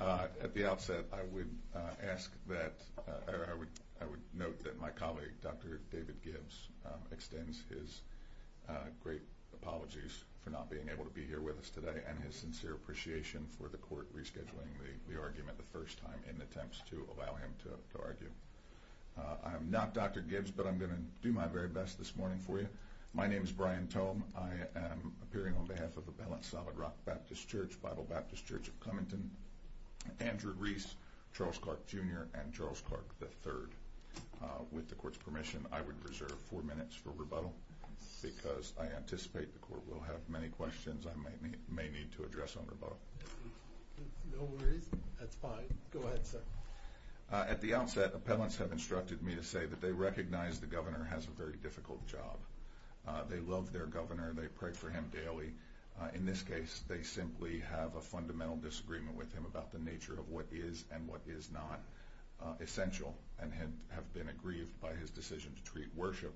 at the outset I would ask that I would I would note that my colleague Dr. David Gibbs extends his great apologies for not being able to be here with us today and his sincere appreciation for the court rescheduling the argument the first time in attempts to allow him to argue. I'm not Dr. Gibbs but I'm going to do my very best this morning for you. My name is Brian Tome. I am appearing on behalf of the Balanced Solid Rock Baptist Church, Bible Baptist Church of Andrew Reese, Charles Clark Jr. and Charles Clark III. With the court's permission I would reserve four minutes for rebuttal because I anticipate the court will have many questions I may need to address on rebuttal. At the outset appellants have instructed me to say that they recognize the governor has a very difficult job. They love their governor. They pray for him daily. In this case they simply have a fundamental disagreement with him about the nature of what is and what is not essential and have been aggrieved by his decision to treat worship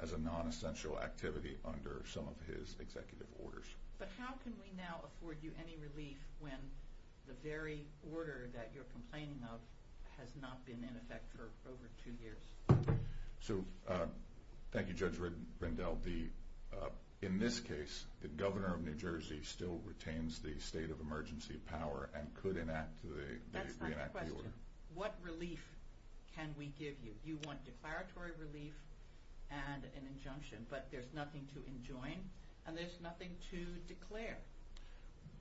as a non-essential activity under some of his executive orders. But how can we now afford you any relief when the very order that you're complaining of has not been in effect for over two years? So the governor of New Jersey still retains the state of emergency power and could enact the re-enact the order. That's not the question. What relief can we give you? You want declaratory relief and an injunction but there's nothing to enjoin and there's nothing to declare.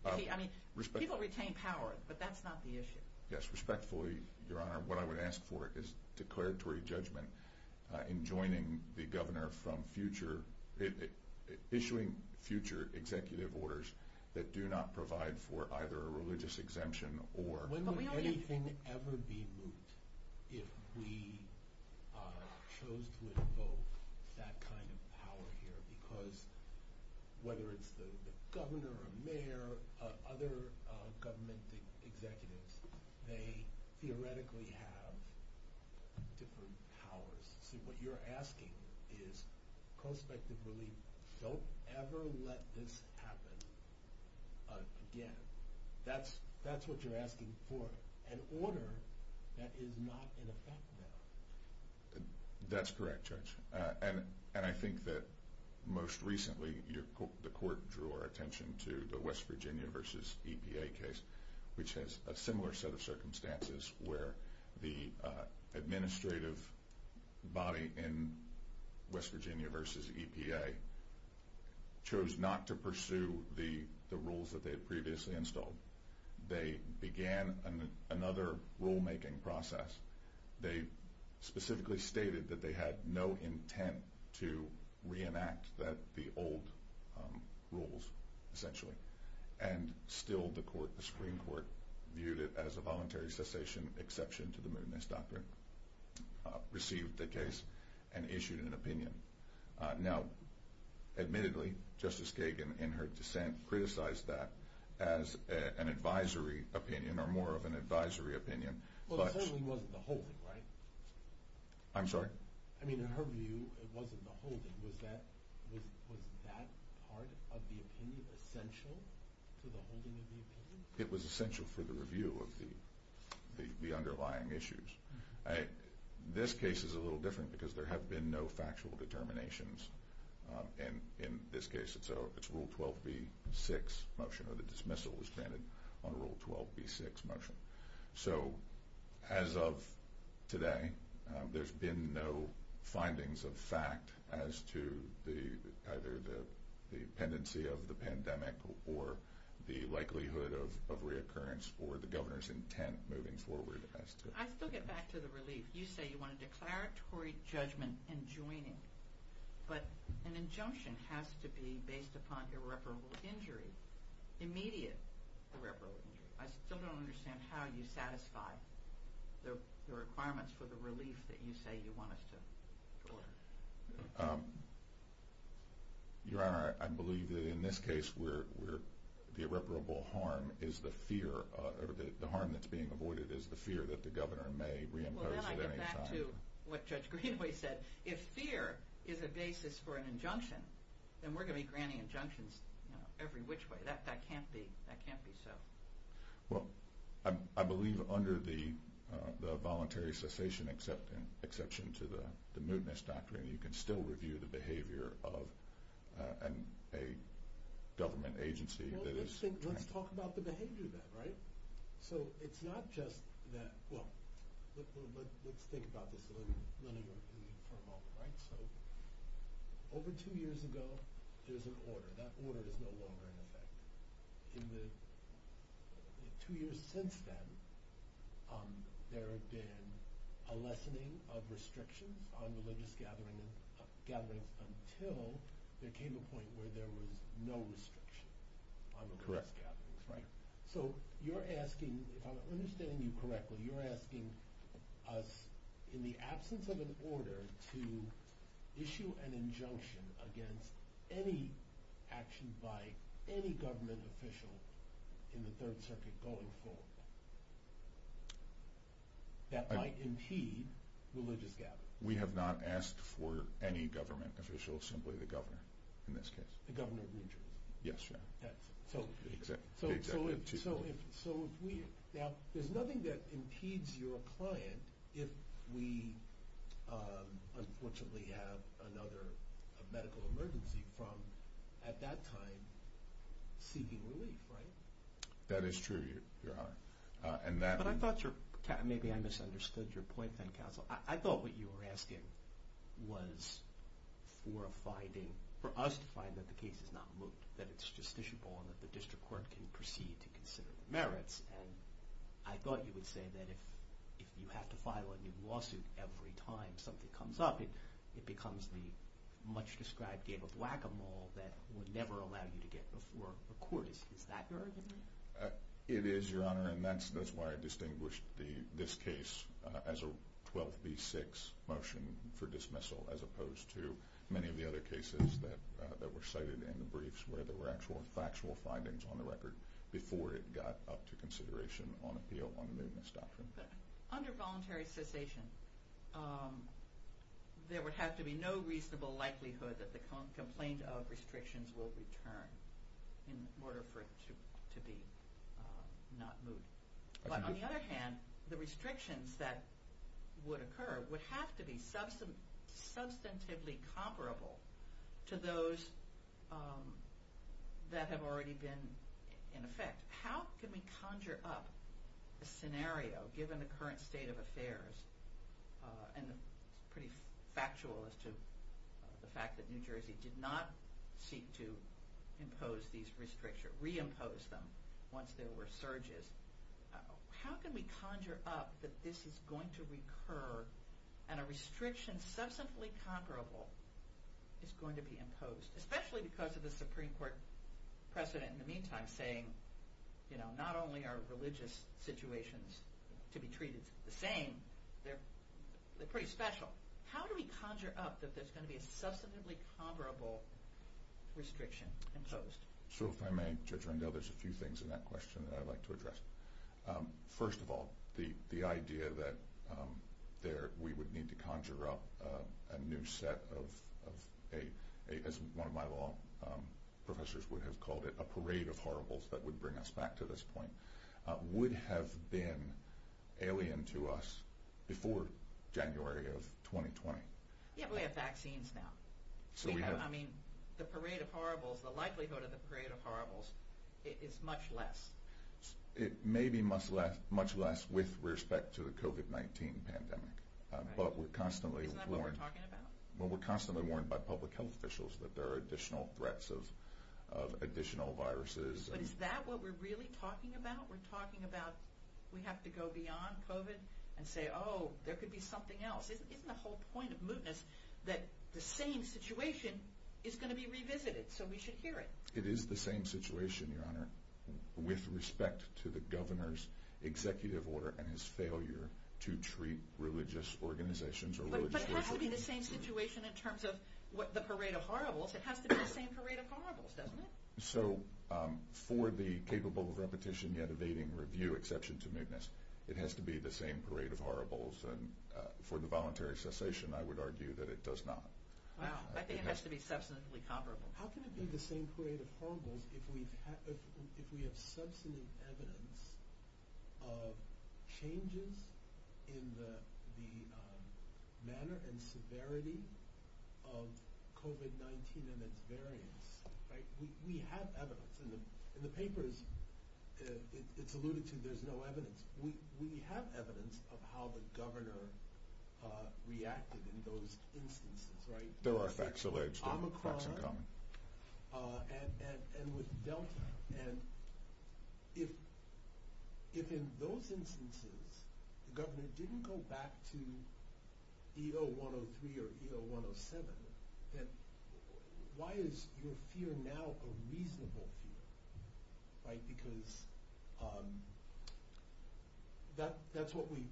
I mean people retain power but that's not the issue. Yes respectfully your honor what I would ask for is declaratory judgment in joining the governor from future, issuing future executive orders that do not provide for either a religious exemption or... When would anything ever be moot if we chose to invoke that kind of power here because whether it's the governor or mayor or other government executives, they theoretically have different powers. So what you're asking is prospective relief. Don't ever let this happen again. That's what you're asking for. An order that is not in effect now. That's correct judge and I think that most recently the court drew our attention to the West Virginia versus EPA case which has a similar set of circumstances where the administrative body in West Virginia versus EPA chose not to pursue the rules that they had previously installed. They began another rulemaking process. They specifically stated that they had no intent to re-enact the old rules essentially and still the Supreme Court viewed it as a voluntary cessation exception to the mootness doctrine, received the case and issued an opinion. Now admittedly Justice Kagan in her dissent criticized that as an advisory opinion or more of an advisory opinion. Well the holding wasn't the holding right? I'm sorry? I mean in her view it wasn't the holding was that part of the opinion essential to the holding of the opinion? It was essential for the review of the underlying issues. This case is a little different because there have been no factual determinations and in this case it's rule 12b-6 motion or the dismissal was granted on rule 12b-6 motion. So as of today there's been no findings of fact as to either the pendency of the pandemic or the likelihood of reoccurrence or the governor's intent moving forward. I still get back to the relief. You say you want a declaratory judgment enjoining but an injunction has to be based upon irreparable injury, immediate irreparable injury. I still don't understand how you satisfy the requirements for the relief that you say you want us to deliver. Your Honor I believe that in this case the irreparable harm is the fear, the harm that's being avoided is the fear that the governor may reimpose at any time. I'm going to go back to what Judge Greenway said. If fear is a basis for an injunction then we're going to be granting injunctions every which way. That can't be so. Well I believe under the voluntary cessation exception to the mootness doctrine you can still review the behavior of a government agency. Well let's talk about the behavior then, right? So it's not just that, well let's think about this for a moment. So over two years ago there was an order. That order is no longer in effect. In the two years since then there have been a lessening of restrictions on religious gatherings until there came a point where there was no restriction on religious gatherings. So you're asking, if I'm understanding you correctly, you're asking us in the absence of an order to issue an injunction against any action by any government official in the Third Circuit going forward that might impede religious gatherings. We have not asked for any government official, simply the governor in this case. The governor of New Jersey? Yes, Your Honor. So there's nothing that impedes your client if we unfortunately have another medical emergency from at that time seeking relief, right? That is true, Your Honor. Maybe I misunderstood your point then, counsel. I thought what you were asking was for us to find that the case is not moot, that it's justiciable and that the district court can proceed to consider the merits. And I thought you would say that if you have to file a new lawsuit every time something comes up it becomes the much described game of whack-a-mole that would never allow you to get before a court. Is that your argument? It is, Your Honor, and that's why I distinguished this case as a 12B6 motion for dismissal as opposed to many of the other cases that were cited in the briefs where there were actual factual findings on the record before it got up to consideration on appeal on the mootness doctrine. Under voluntary cessation there would have to be no reasonable likelihood that the complaint of restrictions will return in order for it to be not moot. But on the other hand, the restrictions that would occur would have to be substantively comparable to those that have already been in effect. How can we conjure up a scenario given the current state of affairs and it's pretty factual as to the fact that New Jersey did not seek to impose these restrictions, re-impose them once there were surges. How can we conjure up that this is going to recur and a restriction substantively comparable is going to be imposed? Especially because of the Supreme Court precedent in the meantime saying, you know, not only are religious situations to be treated the same, they're pretty special. How do we conjure up that there's going to be a substantively comparable restriction imposed? So if I may Judge Rendell, there's a few things in that question that I'd like to address. First of all, the idea that we would need to conjure up a new set of, as one of my law professors would have called it, a parade of horribles that would bring us back to this point, would have been alien to us before January of 2020. Yeah, but we have vaccines now. I mean, the parade of horribles, the likelihood of the parade of horribles is much less. It may be much less with respect to the COVID-19 pandemic, but we're constantly warned. Isn't that what we're talking about? Well, we're constantly warned by public health officials that there are additional threats of additional viruses. But is that what we're really talking about? We're talking about we have to go beyond COVID and say, oh, there could be something else. Isn't the whole point of mootness that the same situation is going to be revisited so we should hear it? It is the same situation, Your Honor, with respect to the governor's executive order and his failure to treat religious organizations or religious communities. But it has to be the same situation in terms of the parade of horribles. It has to be the same parade of horribles, doesn't it? So for the capable of repetition yet evading review exception to mootness, it has to be the same parade of horribles. And for the voluntary cessation, I would argue that it does not. I think it has to be substantively comparable. How can it be the same parade of horribles if we have substantive evidence of changes in the manner and severity of COVID-19 and its variants? We have evidence. In the papers, it's alluded to, there's no evidence. We have evidence of how the governor reacted in those instances, right? There are facts alleged, there are facts in common. If in those instances, the governor didn't go back to EO-103 or EO-107, then why is your fear now a reasonable fear, right? Because that's what we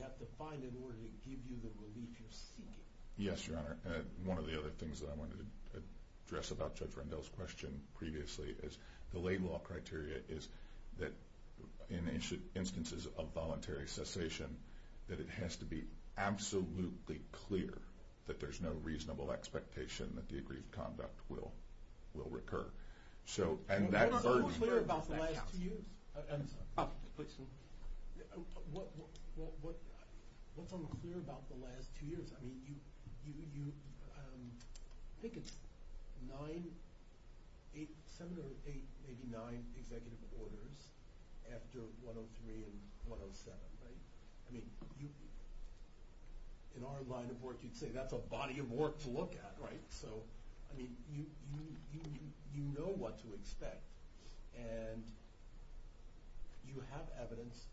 have to find in order to give you the relief you're seeking. Yes, Your Honor. One of the other things that I wanted to address about Judge Rendell's question previously is the lay law criteria is that in instances of voluntary cessation, that it has to be absolutely clear that there's no reasonable expectation that the agreed conduct will recur. What's unclear about the last two years? I think it's seven or eight, maybe nine executive orders after 103 and 107, right? In our line of work, you'd say that's a body of work to look at, right? You know what to expect and you have evidence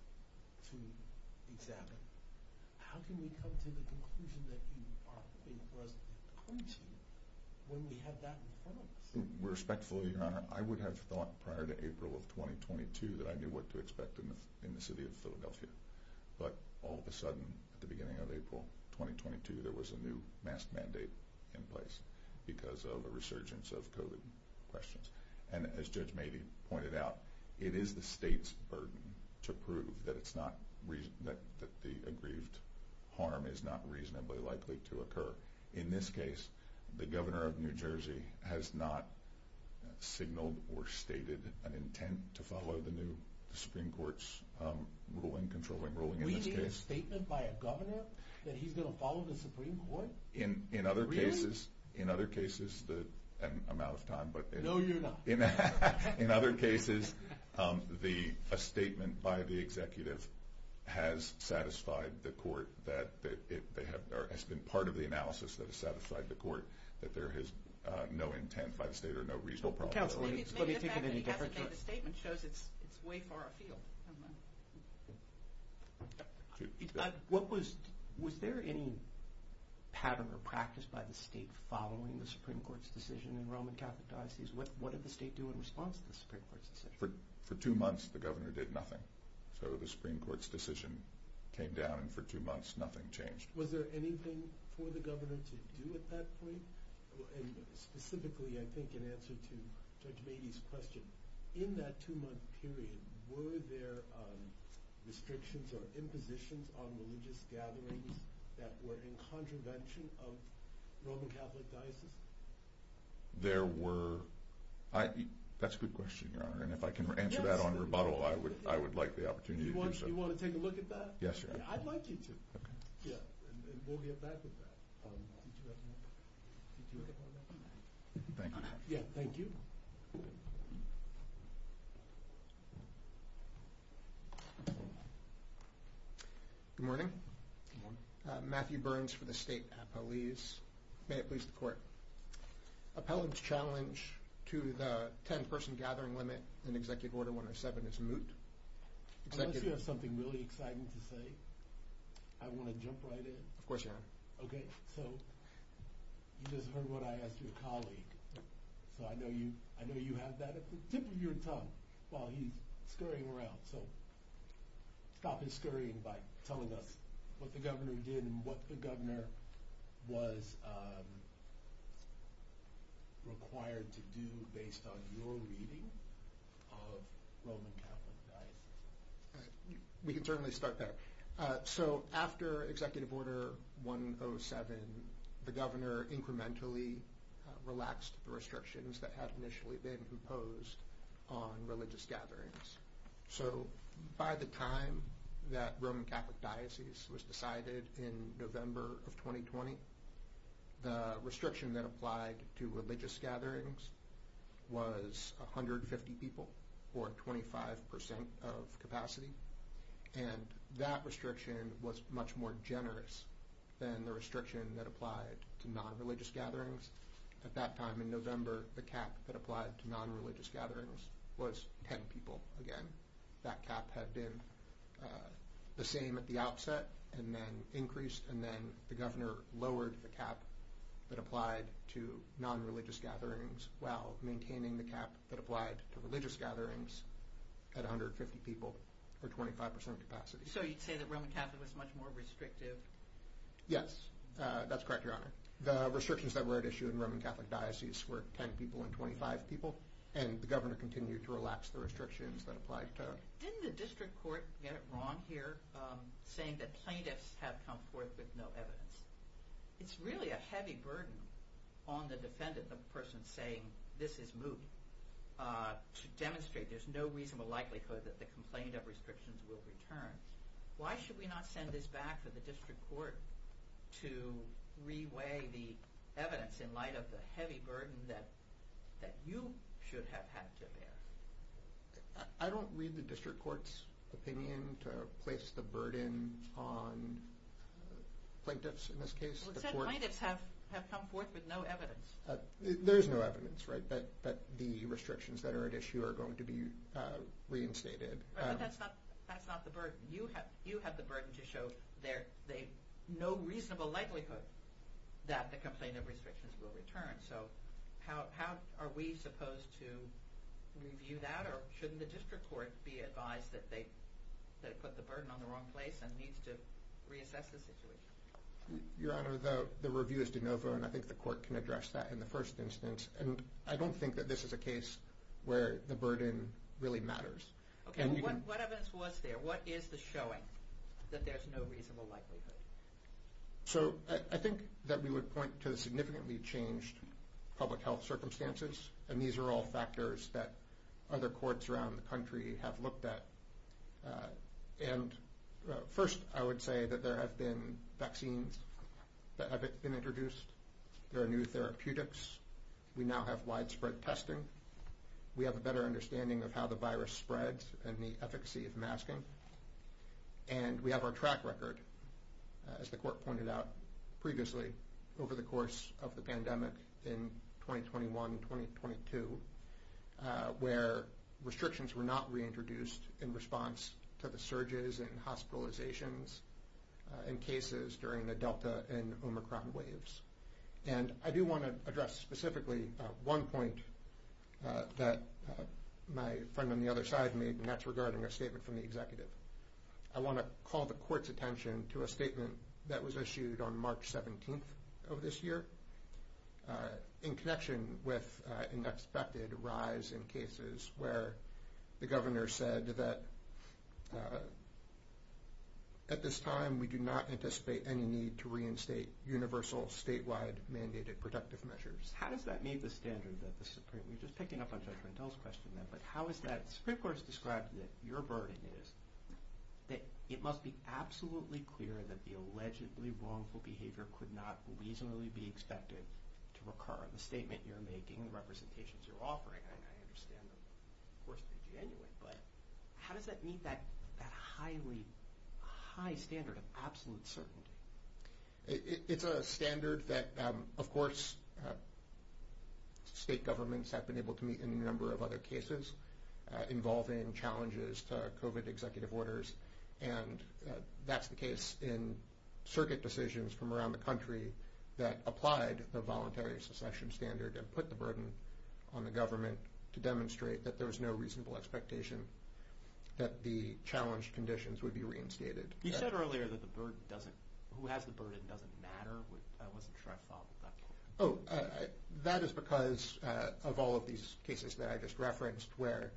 to examine. How can we come to the conclusion that you are hoping for us to come to when we have that in front of us? Respectfully, Your Honor, I would have thought prior to April of 2022 that I knew what to expect in the city of Philadelphia. But all of a sudden, at the beginning of April 2022, there was a new mask mandate in place because of a resurgence of COVID questions. And as Judge Mabee pointed out, it is the state's burden to prove that the aggrieved harm is not reasonably likely to occur. In this case, the governor of New Jersey has not signaled or stated an intent to follow the new Supreme Court's ruling, controlling ruling in this case. We need a statement by a governor that he's going to follow the Supreme Court? Really? In other cases, I'm out of time. No, you're not. In other cases, a statement by the executive has been part of the analysis that has satisfied the court that there is no intent by the state or no reasonable problem. Counsel, let me take it in a different direction. The statement shows it's way far afield. Was there any pattern or practice by the state following the Supreme Court's decision in Roman Catholic Diocese? What did the state do in response to the Supreme Court's decision? For two months, the governor did nothing. So the Supreme Court's decision came down, and for two months, nothing changed. Was there anything for the governor to do at that point? Specifically, I think in answer to Judge Mabee's question, in that two-month period, were there restrictions or impositions on religious gatherings that were in contravention of Roman Catholic Diocese? There were. That's a good question, Your Honor, and if I can answer that on rebuttal, I would like the opportunity to do so. You want to take a look at that? Yes, Your Honor. I'd like you to. Okay. Yeah, and we'll get back to that. Thank you. Yeah, thank you. Good morning. Good morning. Matthew Burns for the State Appellees. May it please the Court. Appellant's challenge to the 10-person gathering limit in Executive Order 107 is moot. Unless you have something really exciting to say. I want to jump right in. Of course, Your Honor. Okay, so you just heard what I asked your colleague, so I know you have that at the tip of your tongue while he's scurrying around. So stop his scurrying by telling us what the governor did and what the governor was required to do based on your reading of Roman Catholic Diocese. We can certainly start there. So after Executive Order 107, the governor incrementally relaxed the restrictions that had initially been imposed on religious gatherings. So by the time that Roman Catholic Diocese was decided in November of 2020, the restriction that applied to religious gatherings was 150 people or 25% of capacity. And that restriction was much more generous than the restriction that applied to non-religious gatherings. At that time in November, the cap that applied to non-religious gatherings was 10 people again. That cap had been the same at the outset and then increased and then the governor lowered the cap that applied to non-religious gatherings while maintaining the cap that applied to religious gatherings at 150 people or 25% of capacity. So you'd say that Roman Catholic was much more restrictive? Yes, that's correct, Your Honor. The restrictions that were at issue in Roman Catholic Diocese were 10 people and 25 people, and the governor continued to relax the restrictions that applied to them. Didn't the district court get it wrong here, saying that plaintiffs have come forth with no evidence? It's really a heavy burden on the defendant, the person saying this is moot, to demonstrate there's no reasonable likelihood that the complaint of restrictions will return. Why should we not send this back to the district court to re-weigh the evidence in light of the heavy burden that you should have had to bear? I don't read the district court's opinion to place the burden on plaintiffs in this case. It said plaintiffs have come forth with no evidence. There is no evidence that the restrictions that are at issue are going to be reinstated. But that's not the burden. You have the burden to show there's no reasonable likelihood that the complaint of restrictions will return. So how are we supposed to review that, or shouldn't the district court be advised that it put the burden on the wrong place and needs to reassess the situation? Your Honor, the review is de novo, and I think the court can address that in the first instance. I don't think that this is a case where the burden really matters. Okay. What evidence was there? What is the showing that there's no reasonable likelihood? So I think that we would point to the significantly changed public health circumstances, and these are all factors that other courts around the country have looked at. And first, I would say that there have been vaccines that have been introduced. There are new therapeutics. We now have widespread testing. We have a better understanding of how the virus spreads and the efficacy of masking. And we have our track record, as the court pointed out previously, over the course of the pandemic in 2021-2022, where restrictions were not reintroduced in response to the surges and hospitalizations and cases during the Delta and Omicron waves. And I do want to address specifically one point that my friend on the other side made, and that's regarding a statement from the executive. I want to call the court's attention to a statement that was issued on March 17th of this year. In connection with an expected rise in cases where the governor said that, at this time, we do not anticipate any need to reinstate universal statewide mandated protective measures. How does that meet the standard that the Supreme – we were just picking up on Judge Rendell's question then, but how is that – the Supreme Court has described that your burden is that it must be absolutely clear that the allegedly wrongful behavior could not reasonably be expected to recur. The statement you're making, the representations you're offering, I understand them, of course, to be genuine, but how does that meet that highly – high standard of absolute certainty? It's a standard that, of course, state governments have been able to meet in a number of other cases involving challenges to COVID executive orders, and that's the case in circuit decisions from around the country that applied the voluntary secession standard and put the burden on the government to demonstrate that there was no reasonable expectation that the challenged conditions would be reinstated. You said earlier that the burden doesn't – who has the burden doesn't matter. I wasn't sure I followed that. Oh, that is because of all of these cases that I just referenced where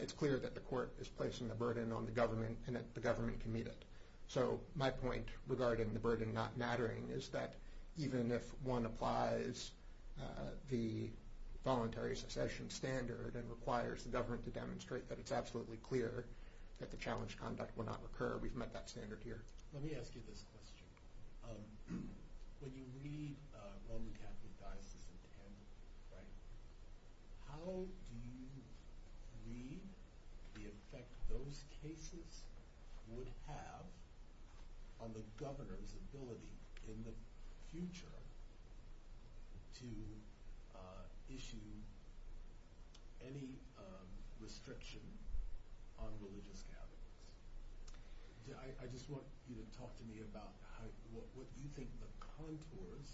it's clear that the court is placing the burden on the government and that the government can meet it. So my point regarding the burden not mattering is that even if one applies the voluntary secession standard and requires the government to demonstrate that it's absolutely clear that the challenged conduct will not recur, we've met that standard here. Let me ask you this question. When you read Roman Catholic Diocese of Camden, right, how do you read the effect those cases would have on the governor's ability in the future to issue any restriction on religious gatherings? I just want you to talk to me about what you think the contours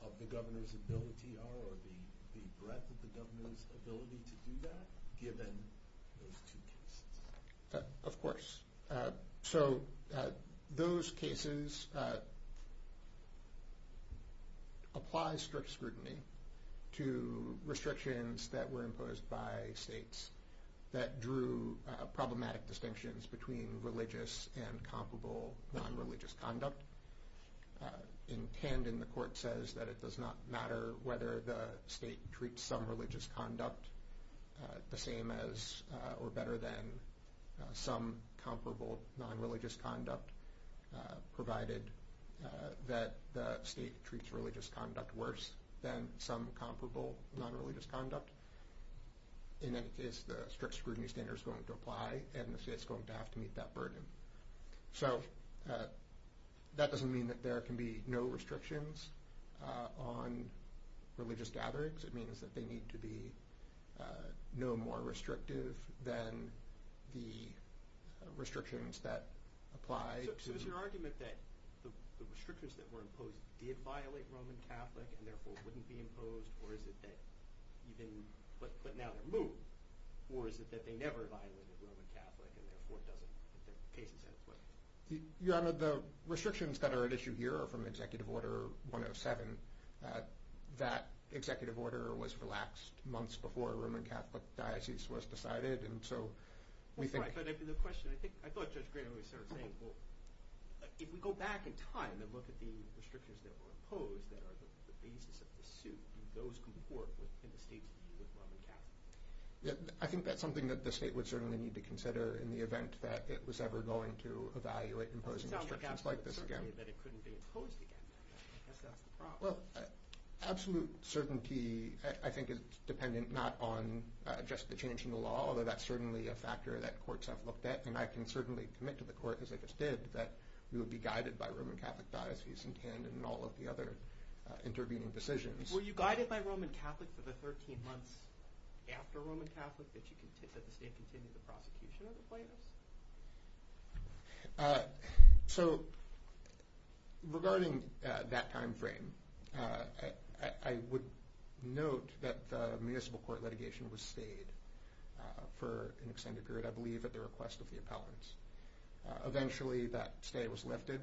of the governor's ability are or the breadth of the governor's ability to do that given those two cases. Of course. So those cases apply strict scrutiny to restrictions that were imposed by states that drew problematic distinctions between religious and comparable non-religious conduct. In Camden, the court says that it does not matter whether the state treats some religious conduct the same as or better than some comparable non-religious conduct provided that the state treats religious conduct worse than some comparable non-religious conduct. In any case, the strict scrutiny standard is going to apply and the state is going to have to meet that burden. So that doesn't mean that there can be no restrictions on religious gatherings, it means that they need to be no more restrictive than the restrictions that apply to... Your Honor, the restrictions that are at issue here are from Executive Order 107. That executive order was relaxed months before a Roman Catholic Diocese was decided and so we think... That's right, but the question, I thought Judge Green always started saying, well, if we go back in time and look at the restrictions that were imposed that are the basis of the suit, do those comport in the state's view of Roman Catholicism? I think that's something that the state would certainly need to consider in the event that it was ever going to evaluate imposing restrictions like this again. It doesn't sound like absolute certainty that it couldn't be imposed again. I guess that's the problem. Well, absolute certainty, I think, is dependent not on just the change in the law, although that's certainly a factor that courts have looked at and I can certainly commit to the court, as I just did, that we would be guided by Roman Catholic Diocese in Camden and all of the other intervening decisions. Were you guided by Roman Catholic for the 13 months after Roman Catholic that the state continued the prosecution of the plaintiffs? Regarding that time frame, I would note that the municipal court litigation was stayed for an extended period, I believe, at the request of the appellants. Eventually, that stay was lifted.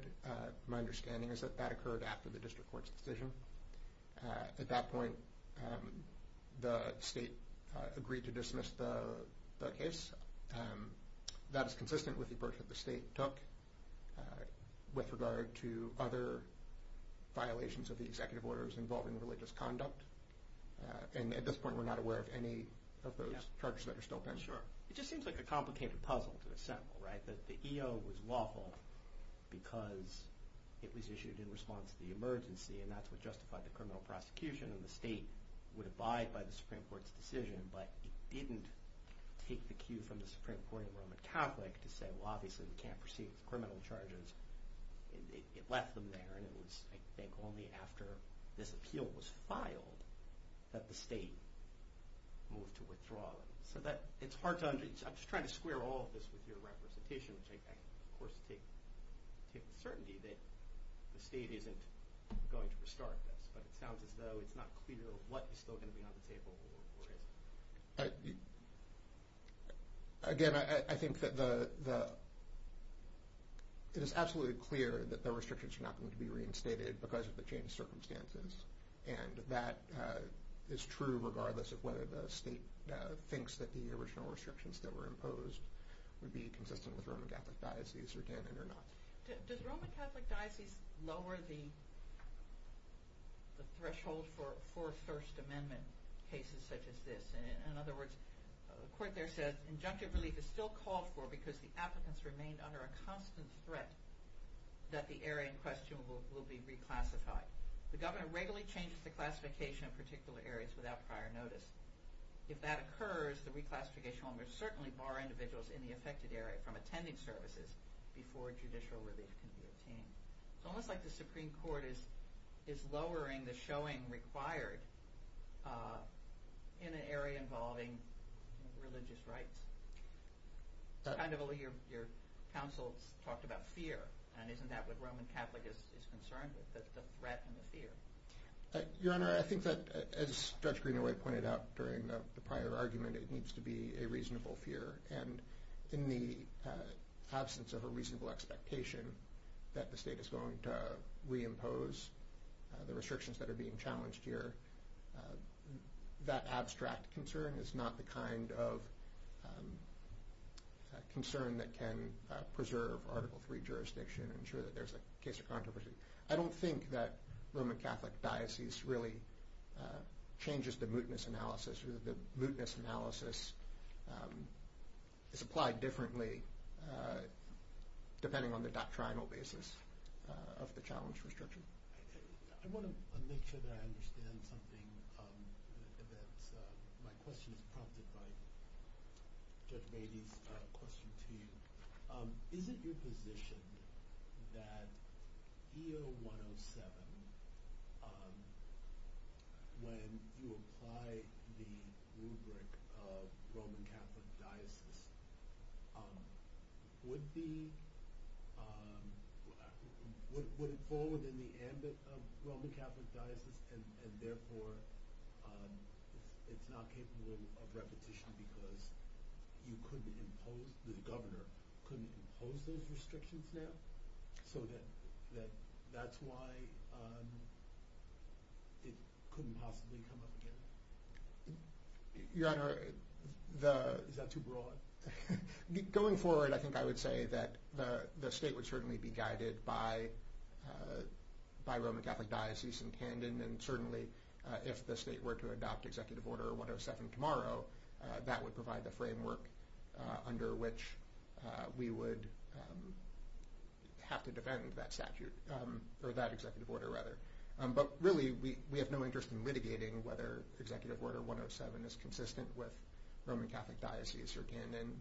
My understanding is that that occurred after the district court's decision. At that point, the state agreed to dismiss the case. That is consistent with the approach that the state took with regard to other violations of the executive orders involving religious conduct. At this point, we're not aware of any of those charges that are still pending. It just seems like a complicated puzzle to assemble, right? That the EO was lawful because it was issued in response to the emergency and that's what justified the criminal prosecution and the state would abide by the Supreme Court's decision, but it didn't take the cue from the Supreme Court and Roman Catholic to say, well, obviously we can't proceed with criminal charges. It left them there and it was, I think, only after this appeal was filed that the state moved to withdraw them. I'm just trying to square all of this with your representation, which I, of course, take with certainty that the state isn't going to restart this, but it sounds as though it's not clear what is still going to be on the table or isn't. Again, I think that it is absolutely clear that the restrictions are not going to be reinstated because of the changed circumstances, and that is true regardless of whether the state thinks that the original restrictions that were imposed would be consistent with Roman Catholic diocese or not. Does Roman Catholic diocese lower the threshold for First Amendment cases such as this? In other words, the court there says injunctive relief is still called for because the applicants remain under a constant threat that the area in question will be reclassified. The governor regularly changes the classification of particular areas without prior notice. If that occurs, the reclassification will certainly bar individuals in the affected area from attending services before judicial relief can be obtained. It's almost like the Supreme Court is lowering the showing required in an area involving religious rights. Your counsel talked about fear, and isn't that what Roman Catholic is concerned with, the threat and the fear? Your Honor, I think that, as Judge Greenaway pointed out during the prior argument, it needs to be a reasonable fear, and in the absence of a reasonable expectation that the state is going to reimpose the restrictions that are being challenged here, that abstract concern is not the kind of concern that can preserve Article III jurisdiction and ensure that there's a case of controversy. I don't think that Roman Catholic diocese really changes the mootness analysis. The mootness analysis is applied differently depending on the doctrinal basis of the challenge restriction. I want to make sure that I understand something. My question is prompted by Judge Beatty's question to you. The governor couldn't impose those restrictions now, so that's why it couldn't possibly come up again? Is that too broad? Going forward, I think I would say that the state would certainly be guided by Roman Catholic diocese in Tandon, and certainly if the state were to adopt Executive Order 107 tomorrow, that would provide the framework under which we would have to defend that statute, or that executive order rather. But really, we have no interest in litigating whether Executive Order 107 is consistent with Roman Catholic diocese or Tandon,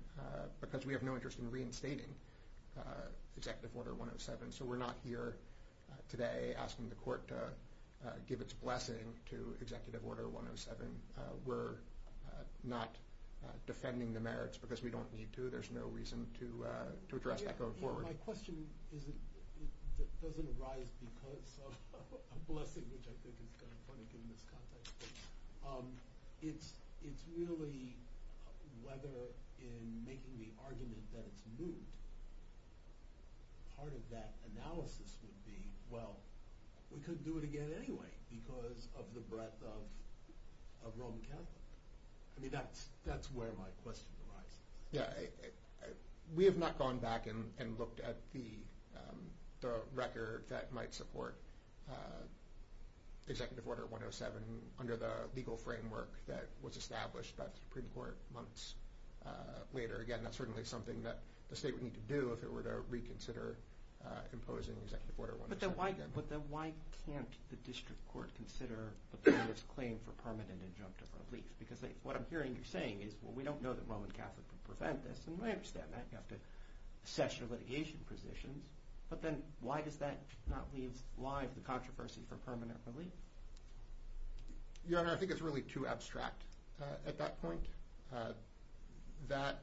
because we have no interest in reinstating Executive Order 107. So we're not here today asking the court to give its blessing to Executive Order 107. We're not defending the merits because we don't need to. There's no reason to address that going forward. My question doesn't arise because of a blessing, which I think is kind of funny given this context, but it's really whether in making the argument that it's moot, part of that analysis would be, well, we couldn't do it again anyway because of the breadth of Roman Catholic. That's where my question arises. Yeah. We have not gone back and looked at the record that might support Executive Order 107 under the legal framework that was established by the Supreme Court months later. Again, that's certainly something that the state would need to do if it were to reconsider imposing Executive Order 107 again. But then why can't the district court consider the plaintiff's claim for permanent injunctive relief? Because what I'm hearing you saying is, well, we don't know that Roman Catholic would prevent this. And I understand that. You have to assess your litigation positions. But then why does that not leave live the controversy for permanent relief? Your Honor, I think it's really too abstract at that point. That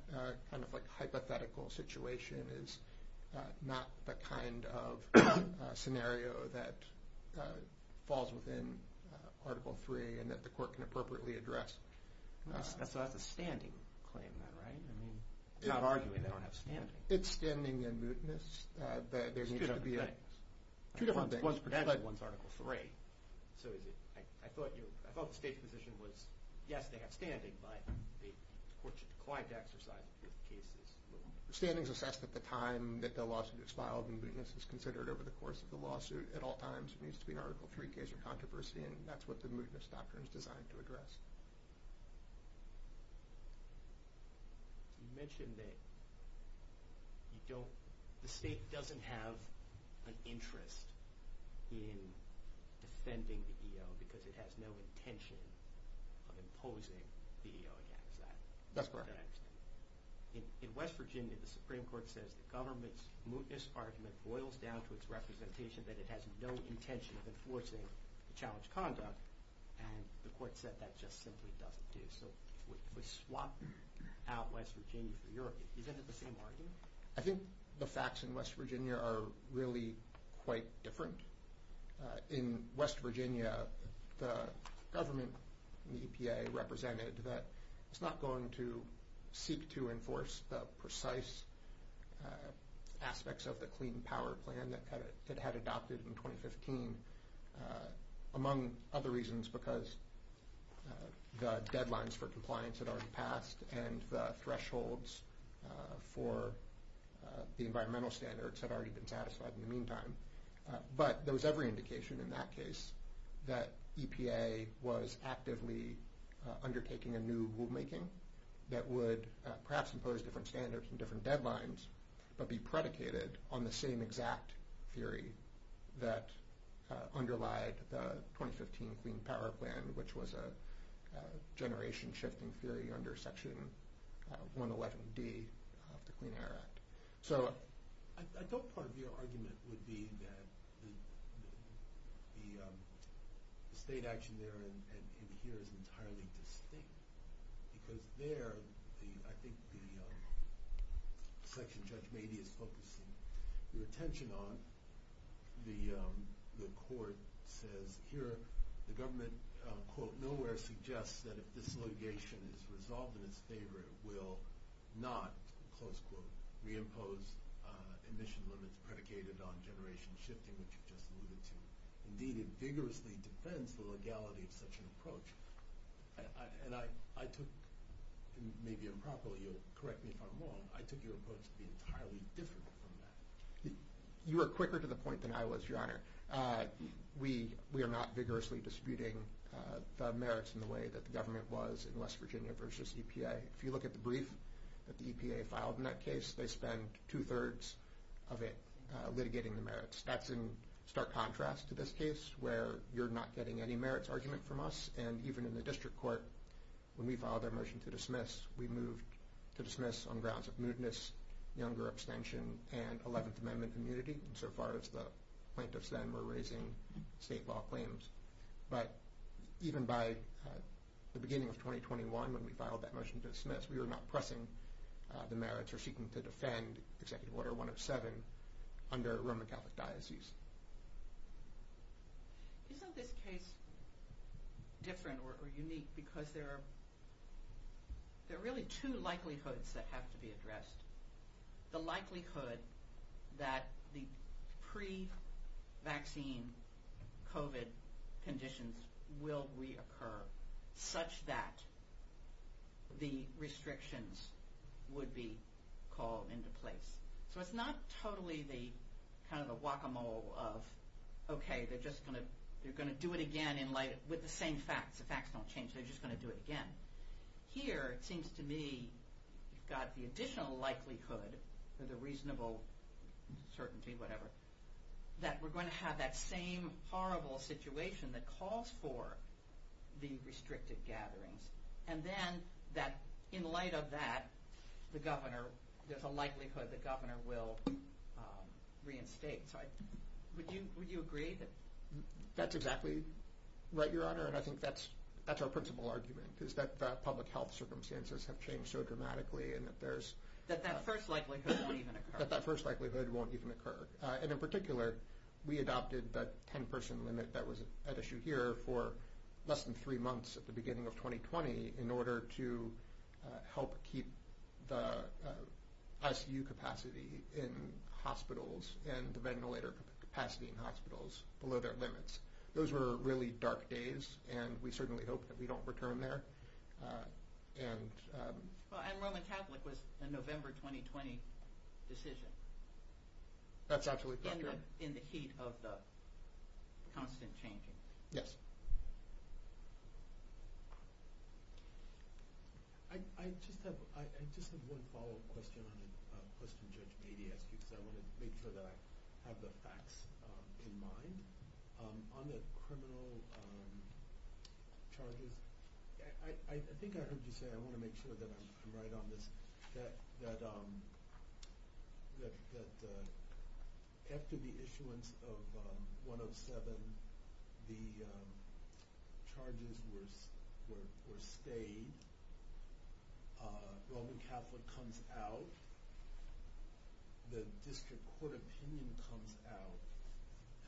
kind of hypothetical situation is not the kind of scenario that falls within Article III and that the court can appropriately address. So that's a standing claim then, right? Not arguing they don't have standing. It's standing and mootness. It's two different things. One's protected, one's Article III. So I thought the state's position was, yes, they have standing, but the court should decline to exercise it if the case is moot. Standing is assessed at the time that the lawsuit is filed, and mootness is considered over the course of the lawsuit at all times. It needs to be an Article III case or controversy, and that's what the mootness doctrine is designed to address. You mentioned that you don't – the state doesn't have an interest in defending the EO because it has no intention of imposing the EO against that. That's correct. In West Virginia, the Supreme Court says the government's mootness argument boils down to its representation that it has no intention of enforcing the challenge conduct, and the court said that just simply doesn't do. So we swap out West Virginia for Europe. Isn't it the same argument? I think the facts in West Virginia are really quite different. In West Virginia, the government and the EPA represented that it's not going to seek to enforce the precise aspects of the Clean Power Plan that it had adopted in 2015, among other reasons because the deadlines for compliance had already passed and the thresholds for the environmental standards had already been satisfied in the meantime. But there was every indication in that case that EPA was actively undertaking a new rulemaking that would perhaps impose different standards and different deadlines but be predicated on the same exact theory that underlied the 2015 Clean Power Plan, which was a generation-shifting theory under Section 111D of the Clean Air Act. So I thought part of your argument would be that the state action there and here is entirely distinct because there, I think the section Judge Mady is focusing her attention on, the court says here the government, quote, nowhere suggests that if this litigation is resolved in its favor, it will not, close quote, reimpose emission limits predicated on generation-shifting, which you just alluded to. Indeed, it vigorously defends the legality of such an approach, and I took, maybe improperly, you'll correct me if I'm wrong, I took your approach to be entirely different from that. You were quicker to the point than I was, Your Honor. We are not vigorously disputing the merits in the way that the government was in West Virginia versus EPA. If you look at the brief that the EPA filed in that case, they spend two-thirds of it litigating the merits. That's in stark contrast to this case where you're not getting any merits argument from us. And even in the district court, when we filed our motion to dismiss, we moved to dismiss on grounds of moodness, younger abstention, and 11th Amendment immunity, so far as the plaintiffs then were raising state law claims. But even by the beginning of 2021, when we filed that motion to dismiss, we were not pressing the merits or seeking to defend Executive Order 107 under Roman Catholic diocese. Isn't this case different or unique because there are really two likelihoods that have to be addressed. The likelihood that the pre-vaccine COVID conditions will reoccur such that the restrictions would be called into place. So it's not totally the guacamole of, OK, they're just going to do it again with the same facts. The facts don't change. They're just going to do it again. Here, it seems to me, you've got the additional likelihood or the reasonable certainty, whatever, that we're going to have that same horrible situation that calls for the restricted gatherings. And then, in light of that, there's a likelihood the governor will reinstate. Would you agree? That's exactly right, Your Honor. And I think that's our principal argument, is that public health circumstances have changed so dramatically. That that first likelihood won't even occur. That that first likelihood won't even occur. And in particular, we adopted the 10-person limit that was at issue here for less than three months at the beginning of 2020 in order to help keep the ICU capacity in hospitals and the ventilator capacity in hospitals below their limits. Those were really dark days, and we certainly hope that we don't return there. And Roman Catholic was a November 2020 decision. That's absolutely correct. In the heat of the constant changing. Yes. I just have one follow-up question on a question Judge Mady asked you, because I want to make sure that I have the facts in mind. On the criminal charges, I think I heard you say, I want to make sure that I'm right on this, that after the issuance of 107, the charges were stayed. Roman Catholic comes out. The district court opinion comes out,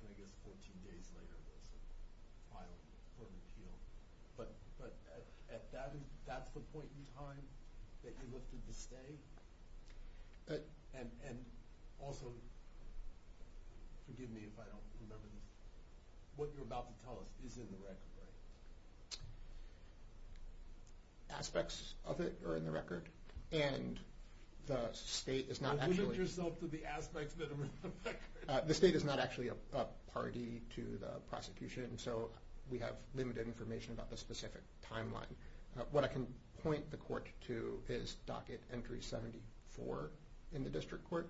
and I guess 14 days later, it was filed for an appeal. But that's the point in time that you looked at the stay? And also, forgive me if I don't remember this, what you're about to tell us is in the record, right? Aspects of it are in the record. Limit yourself to the aspects that are in the record. The state is not actually a party to the prosecution, so we have limited information about the specific timeline. What I can point the court to is docket entry 74 in the district court,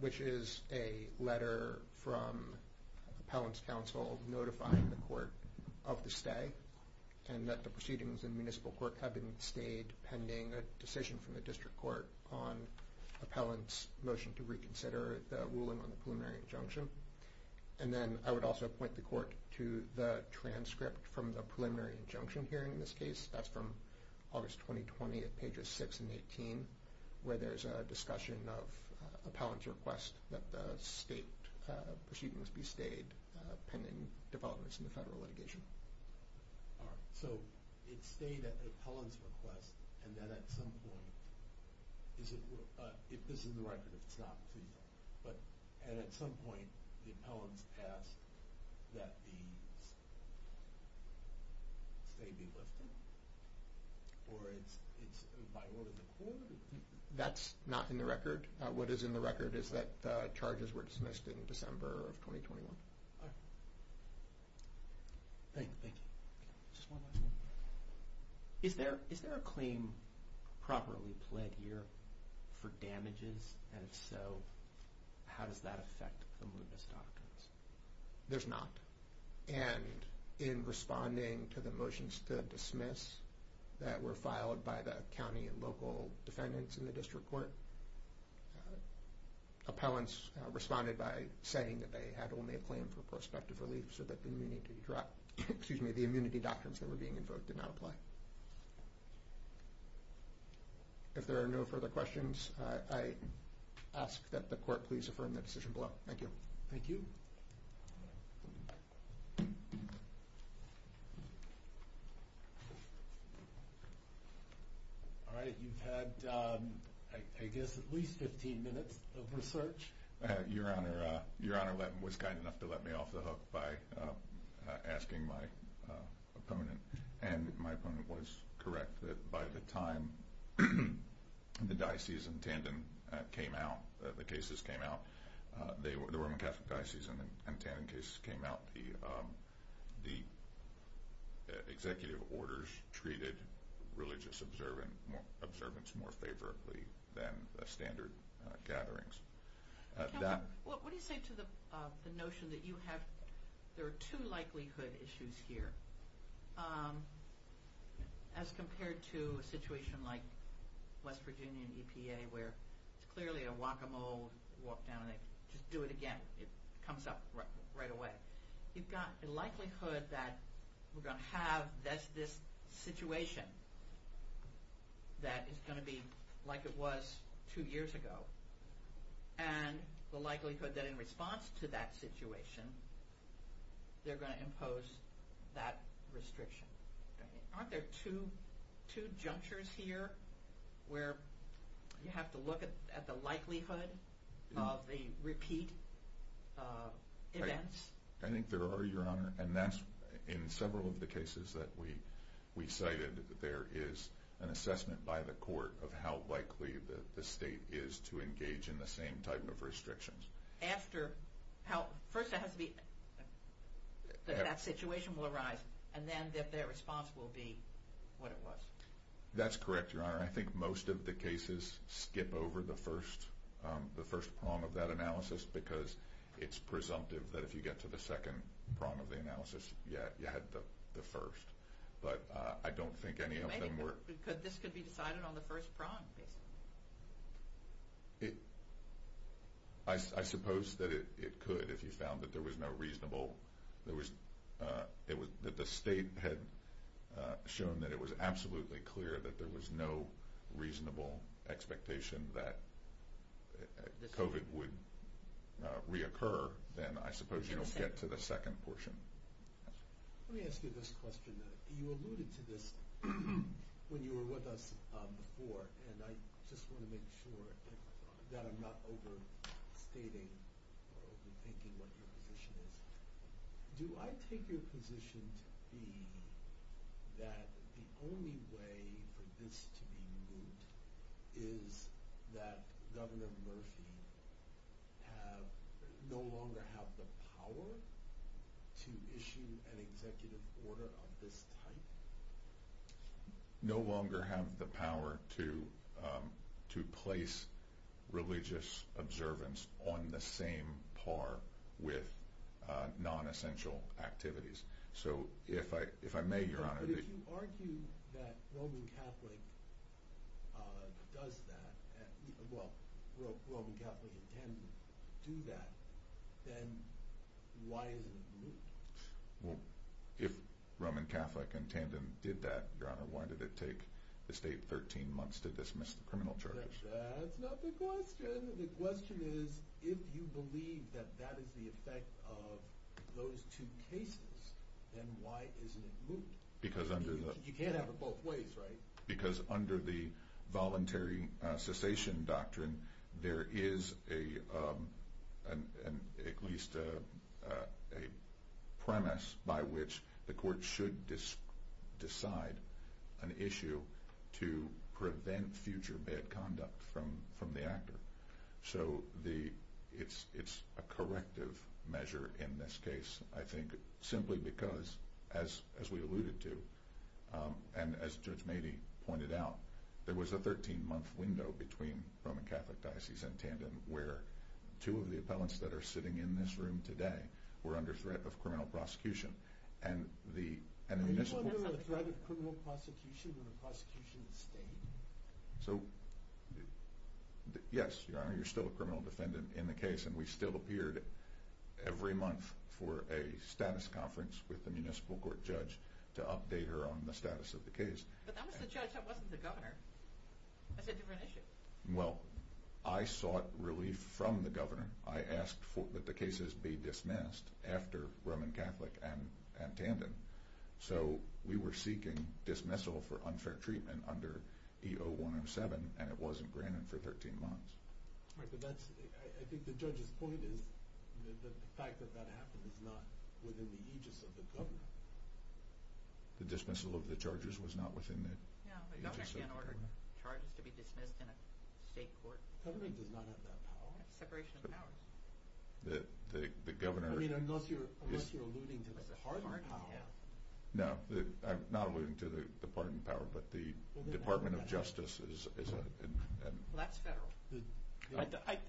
which is a letter from appellant's counsel notifying the court of the stay. And that the proceedings in municipal court have been stayed pending a decision from the district court on appellant's motion to reconsider the ruling on the preliminary injunction. And then I would also point the court to the transcript from the preliminary injunction hearing in this case. That's from August 2020 at pages 6 and 18, where there's a discussion of appellant's request that the state proceedings be stayed pending developments in the federal litigation. So it stayed at the appellant's request and then at some point, if this is in the record, if it's not, and at some point the appellant's passed, that the stay be lifted? Or it's by order of the court? That's not in the record. What is in the record is that charges were dismissed in December of 2021. Thank you. Is there a claim properly pled here for damages? And if so, how does that affect the Moodness Doctrines? There's not. And in responding to the motions to dismiss that were filed by the county and local defendants in the district court, appellants responded by saying that they had only a claim for prospective relief so that the immunity, excuse me, the immunity doctrines that were being invoked did not apply. If there are no further questions, I ask that the court please affirm the decision below. Thank you. Thank you. All right. You've had, I guess, at least 15 minutes of research. Your Honor, Your Honor was kind enough to let me off the hook by asking my opponent. And my opponent was correct that by the time the Dices and Tandon came out, the cases came out, the Roman Catholic Dices and Tandon cases came out, the executive orders treated religious observance more favorably than standard gatherings. What do you say to the notion that you have, there are two likelihood issues here as compared to a situation like West Virginia and EPA where it's clearly a guacamole walk down and they just do it again. It comes up right away. You've got the likelihood that we're going to have this situation that is going to be like it was two years ago. And the likelihood that in response to that situation, they're going to impose that restriction. Aren't there two junctures here where you have to look at the likelihood of the repeat events? I think there are, Your Honor. And that's in several of the cases that we cited, there is an assessment by the court of how likely the state is to engage in the same type of restrictions. First it has to be that that situation will arise and then that their response will be what it was. That's correct, Your Honor. I think most of the cases skip over the first prong of that analysis because it's presumptive that if you get to the second prong of the analysis, you had the first. But I don't think any of them were. This could be decided on the first prong, basically. I suppose that it could if you found that there was no reasonable – that the state had shown that it was absolutely clear that there was no reasonable expectation that COVID would reoccur. Then I suppose you don't get to the second portion. Let me ask you this question. You alluded to this when you were with us before, and I just want to make sure that I'm not overstating or overthinking what your position is. Do I take your position to be that the only way for this to be moved is that Governor Murphy no longer have the power to issue an executive order of this type? No longer have the power to place religious observance on the same par with non-essential activities. So if I may, Your Honor – But if you argue that Roman Catholic does that – well, Roman Catholic intended to do that, then why isn't it moved? Well, if Roman Catholic intended to do that, Your Honor, why did it take the state 13 months to dismiss the criminal charges? That's not the question. The question is if you believe that that is the effect of those two cases, then why isn't it moved? Because under the – You can't have it both ways, right? Because under the voluntary cessation doctrine, there is at least a premise by which the court should decide an issue to prevent future bad conduct from the actor. So it's a corrective measure in this case, I think, simply because, as we alluded to, and as Judge Mady pointed out, there was a 13-month window between Roman Catholic Diocese and Tandon where two of the appellants that are sitting in this room today were under threat of criminal prosecution. And the initial – Were you under the threat of criminal prosecution when the prosecution stayed? So, yes, Your Honor, you're still a criminal defendant in the case, and we still appeared every month for a status conference with the municipal court judge to update her on the status of the case. But that was the judge, that wasn't the governor. That's a different issue. Well, I sought relief from the governor. I asked that the cases be dismissed after Roman Catholic and Tandon. So we were seeking dismissal for unfair treatment under E.O. 107, and it wasn't granted for 13 months. Right, but that's – I think the judge's point is that the fact that that happened is not within the aegis of the governor. The dismissal of the charges was not within the aegis of the governor? Yeah, the governor can't order charges to be dismissed in a state court. Government does not have that power. Separation of powers. The governor – I mean, unless you're alluding to the pardon power. No, I'm not alluding to the pardon power, but the Department of Justice is – Well, that's federal.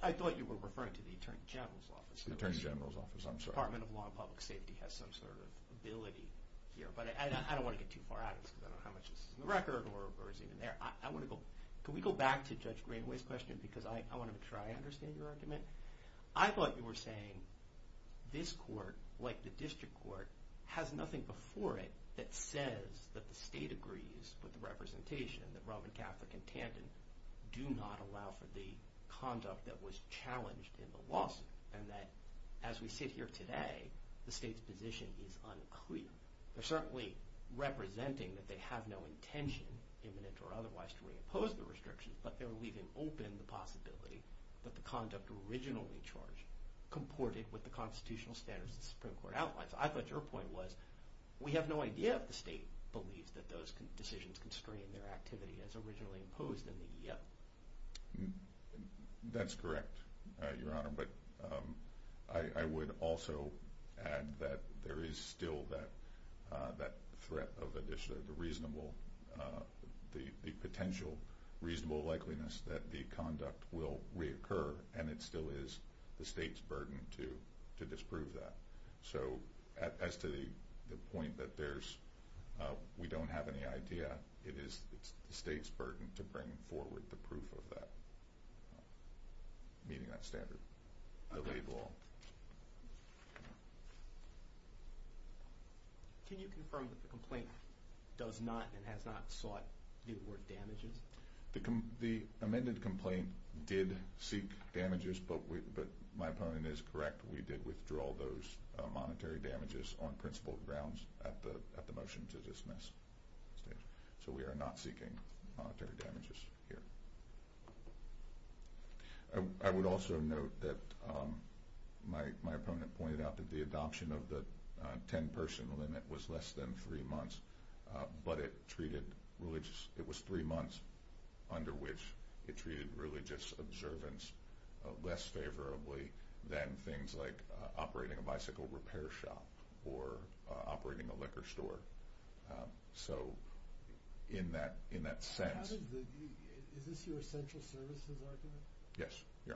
I thought you were referring to the Attorney General's office. The Attorney General's office, I'm sorry. The Department of Law and Public Safety has some sort of ability here, but I don't want to get too far out of this because I don't know how much is in the record or is even there. I want to go – can we go back to Judge Greenaway's question because I want to make sure I understand your argument? I thought you were saying this court, like the district court, has nothing before it that says that the state agrees with the representation that Roman Catholic and Tandon do not allow for the conduct that was challenged in the lawsuit, and that as we sit here today, the state's position is unclear. They're certainly representing that they have no intention, imminent or otherwise, to reimpose the restrictions, but they're leaving open the possibility that the conduct originally charged comported with the constitutional standards the Supreme Court outlines. I thought your point was we have no idea if the state believes that those decisions constrain their activity as originally imposed in the EO. That's correct, Your Honor, but I would also add that there is still that threat of the potential reasonable likeliness that the conduct will reoccur, and it still is the state's burden to disprove that. So as to the point that there's – we don't have any idea, it is the state's burden to bring forward the proof of that, meeting that standard. Okay. Can you confirm that the complaint does not and has not sought – do you have the word damages? The amended complaint did seek damages, but my opponent is correct. We did withdraw those monetary damages on principled grounds at the motion to dismiss stage. So we are not seeking monetary damages here. I would also note that my opponent pointed out that the adoption of the 10-person limit was less than three months, but it treated religious – it was three months under which it treated religious observance less favorably than things like operating a bicycle repair shop or operating a liquor store. So in that sense – Is this your essential services argument? Yes, Your Honor.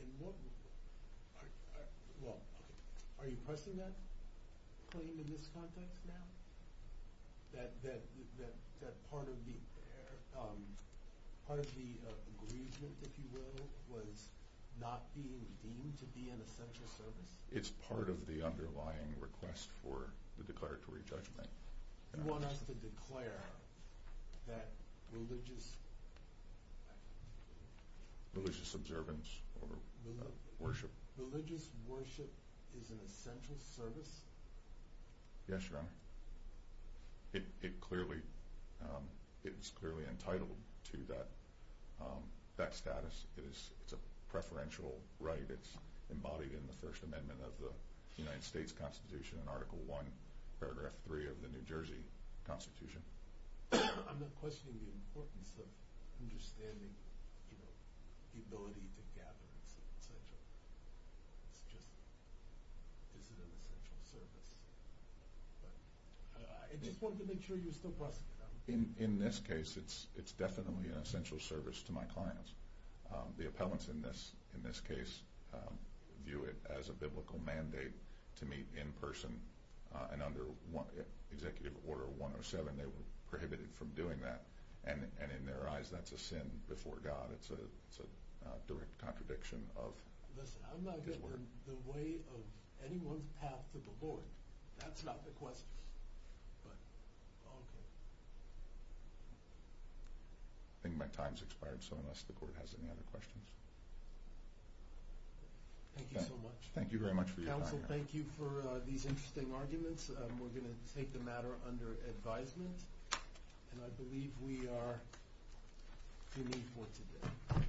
And what – well, are you pressing that claim in this context now, that part of the – part of the aggrievement, if you will, was not being deemed to be an essential service? It's part of the underlying request for the declaratory judgment. You want us to declare that religious – Religious observance or worship. Religious worship is an essential service? Yes, Your Honor. It clearly – it is clearly entitled to that status. It is – it's a preferential right. It's embodied in the First Amendment of the United States Constitution in Article I, Paragraph 3 of the New Jersey Constitution. I'm not questioning the importance of understanding, you know, the ability to gather. It's an essential – it's just – is it an essential service? But I just wanted to make sure you were still pressing it. In this case, it's definitely an essential service to my clients. The appellants in this case view it as a biblical mandate to meet in person. And under Executive Order 107, they were prohibited from doing that. And in their eyes, that's a sin before God. It's a direct contradiction of His Word. Listen, I'm not getting in the way of anyone's path to the Lord. That's not the question. But, okay. I think my time's expired, so unless the Court has any other questions. Thank you so much. Thank you very much for your time, Your Honor. Counsel, thank you for these interesting arguments. We're going to take the matter under advisement. And I believe we are finished for today.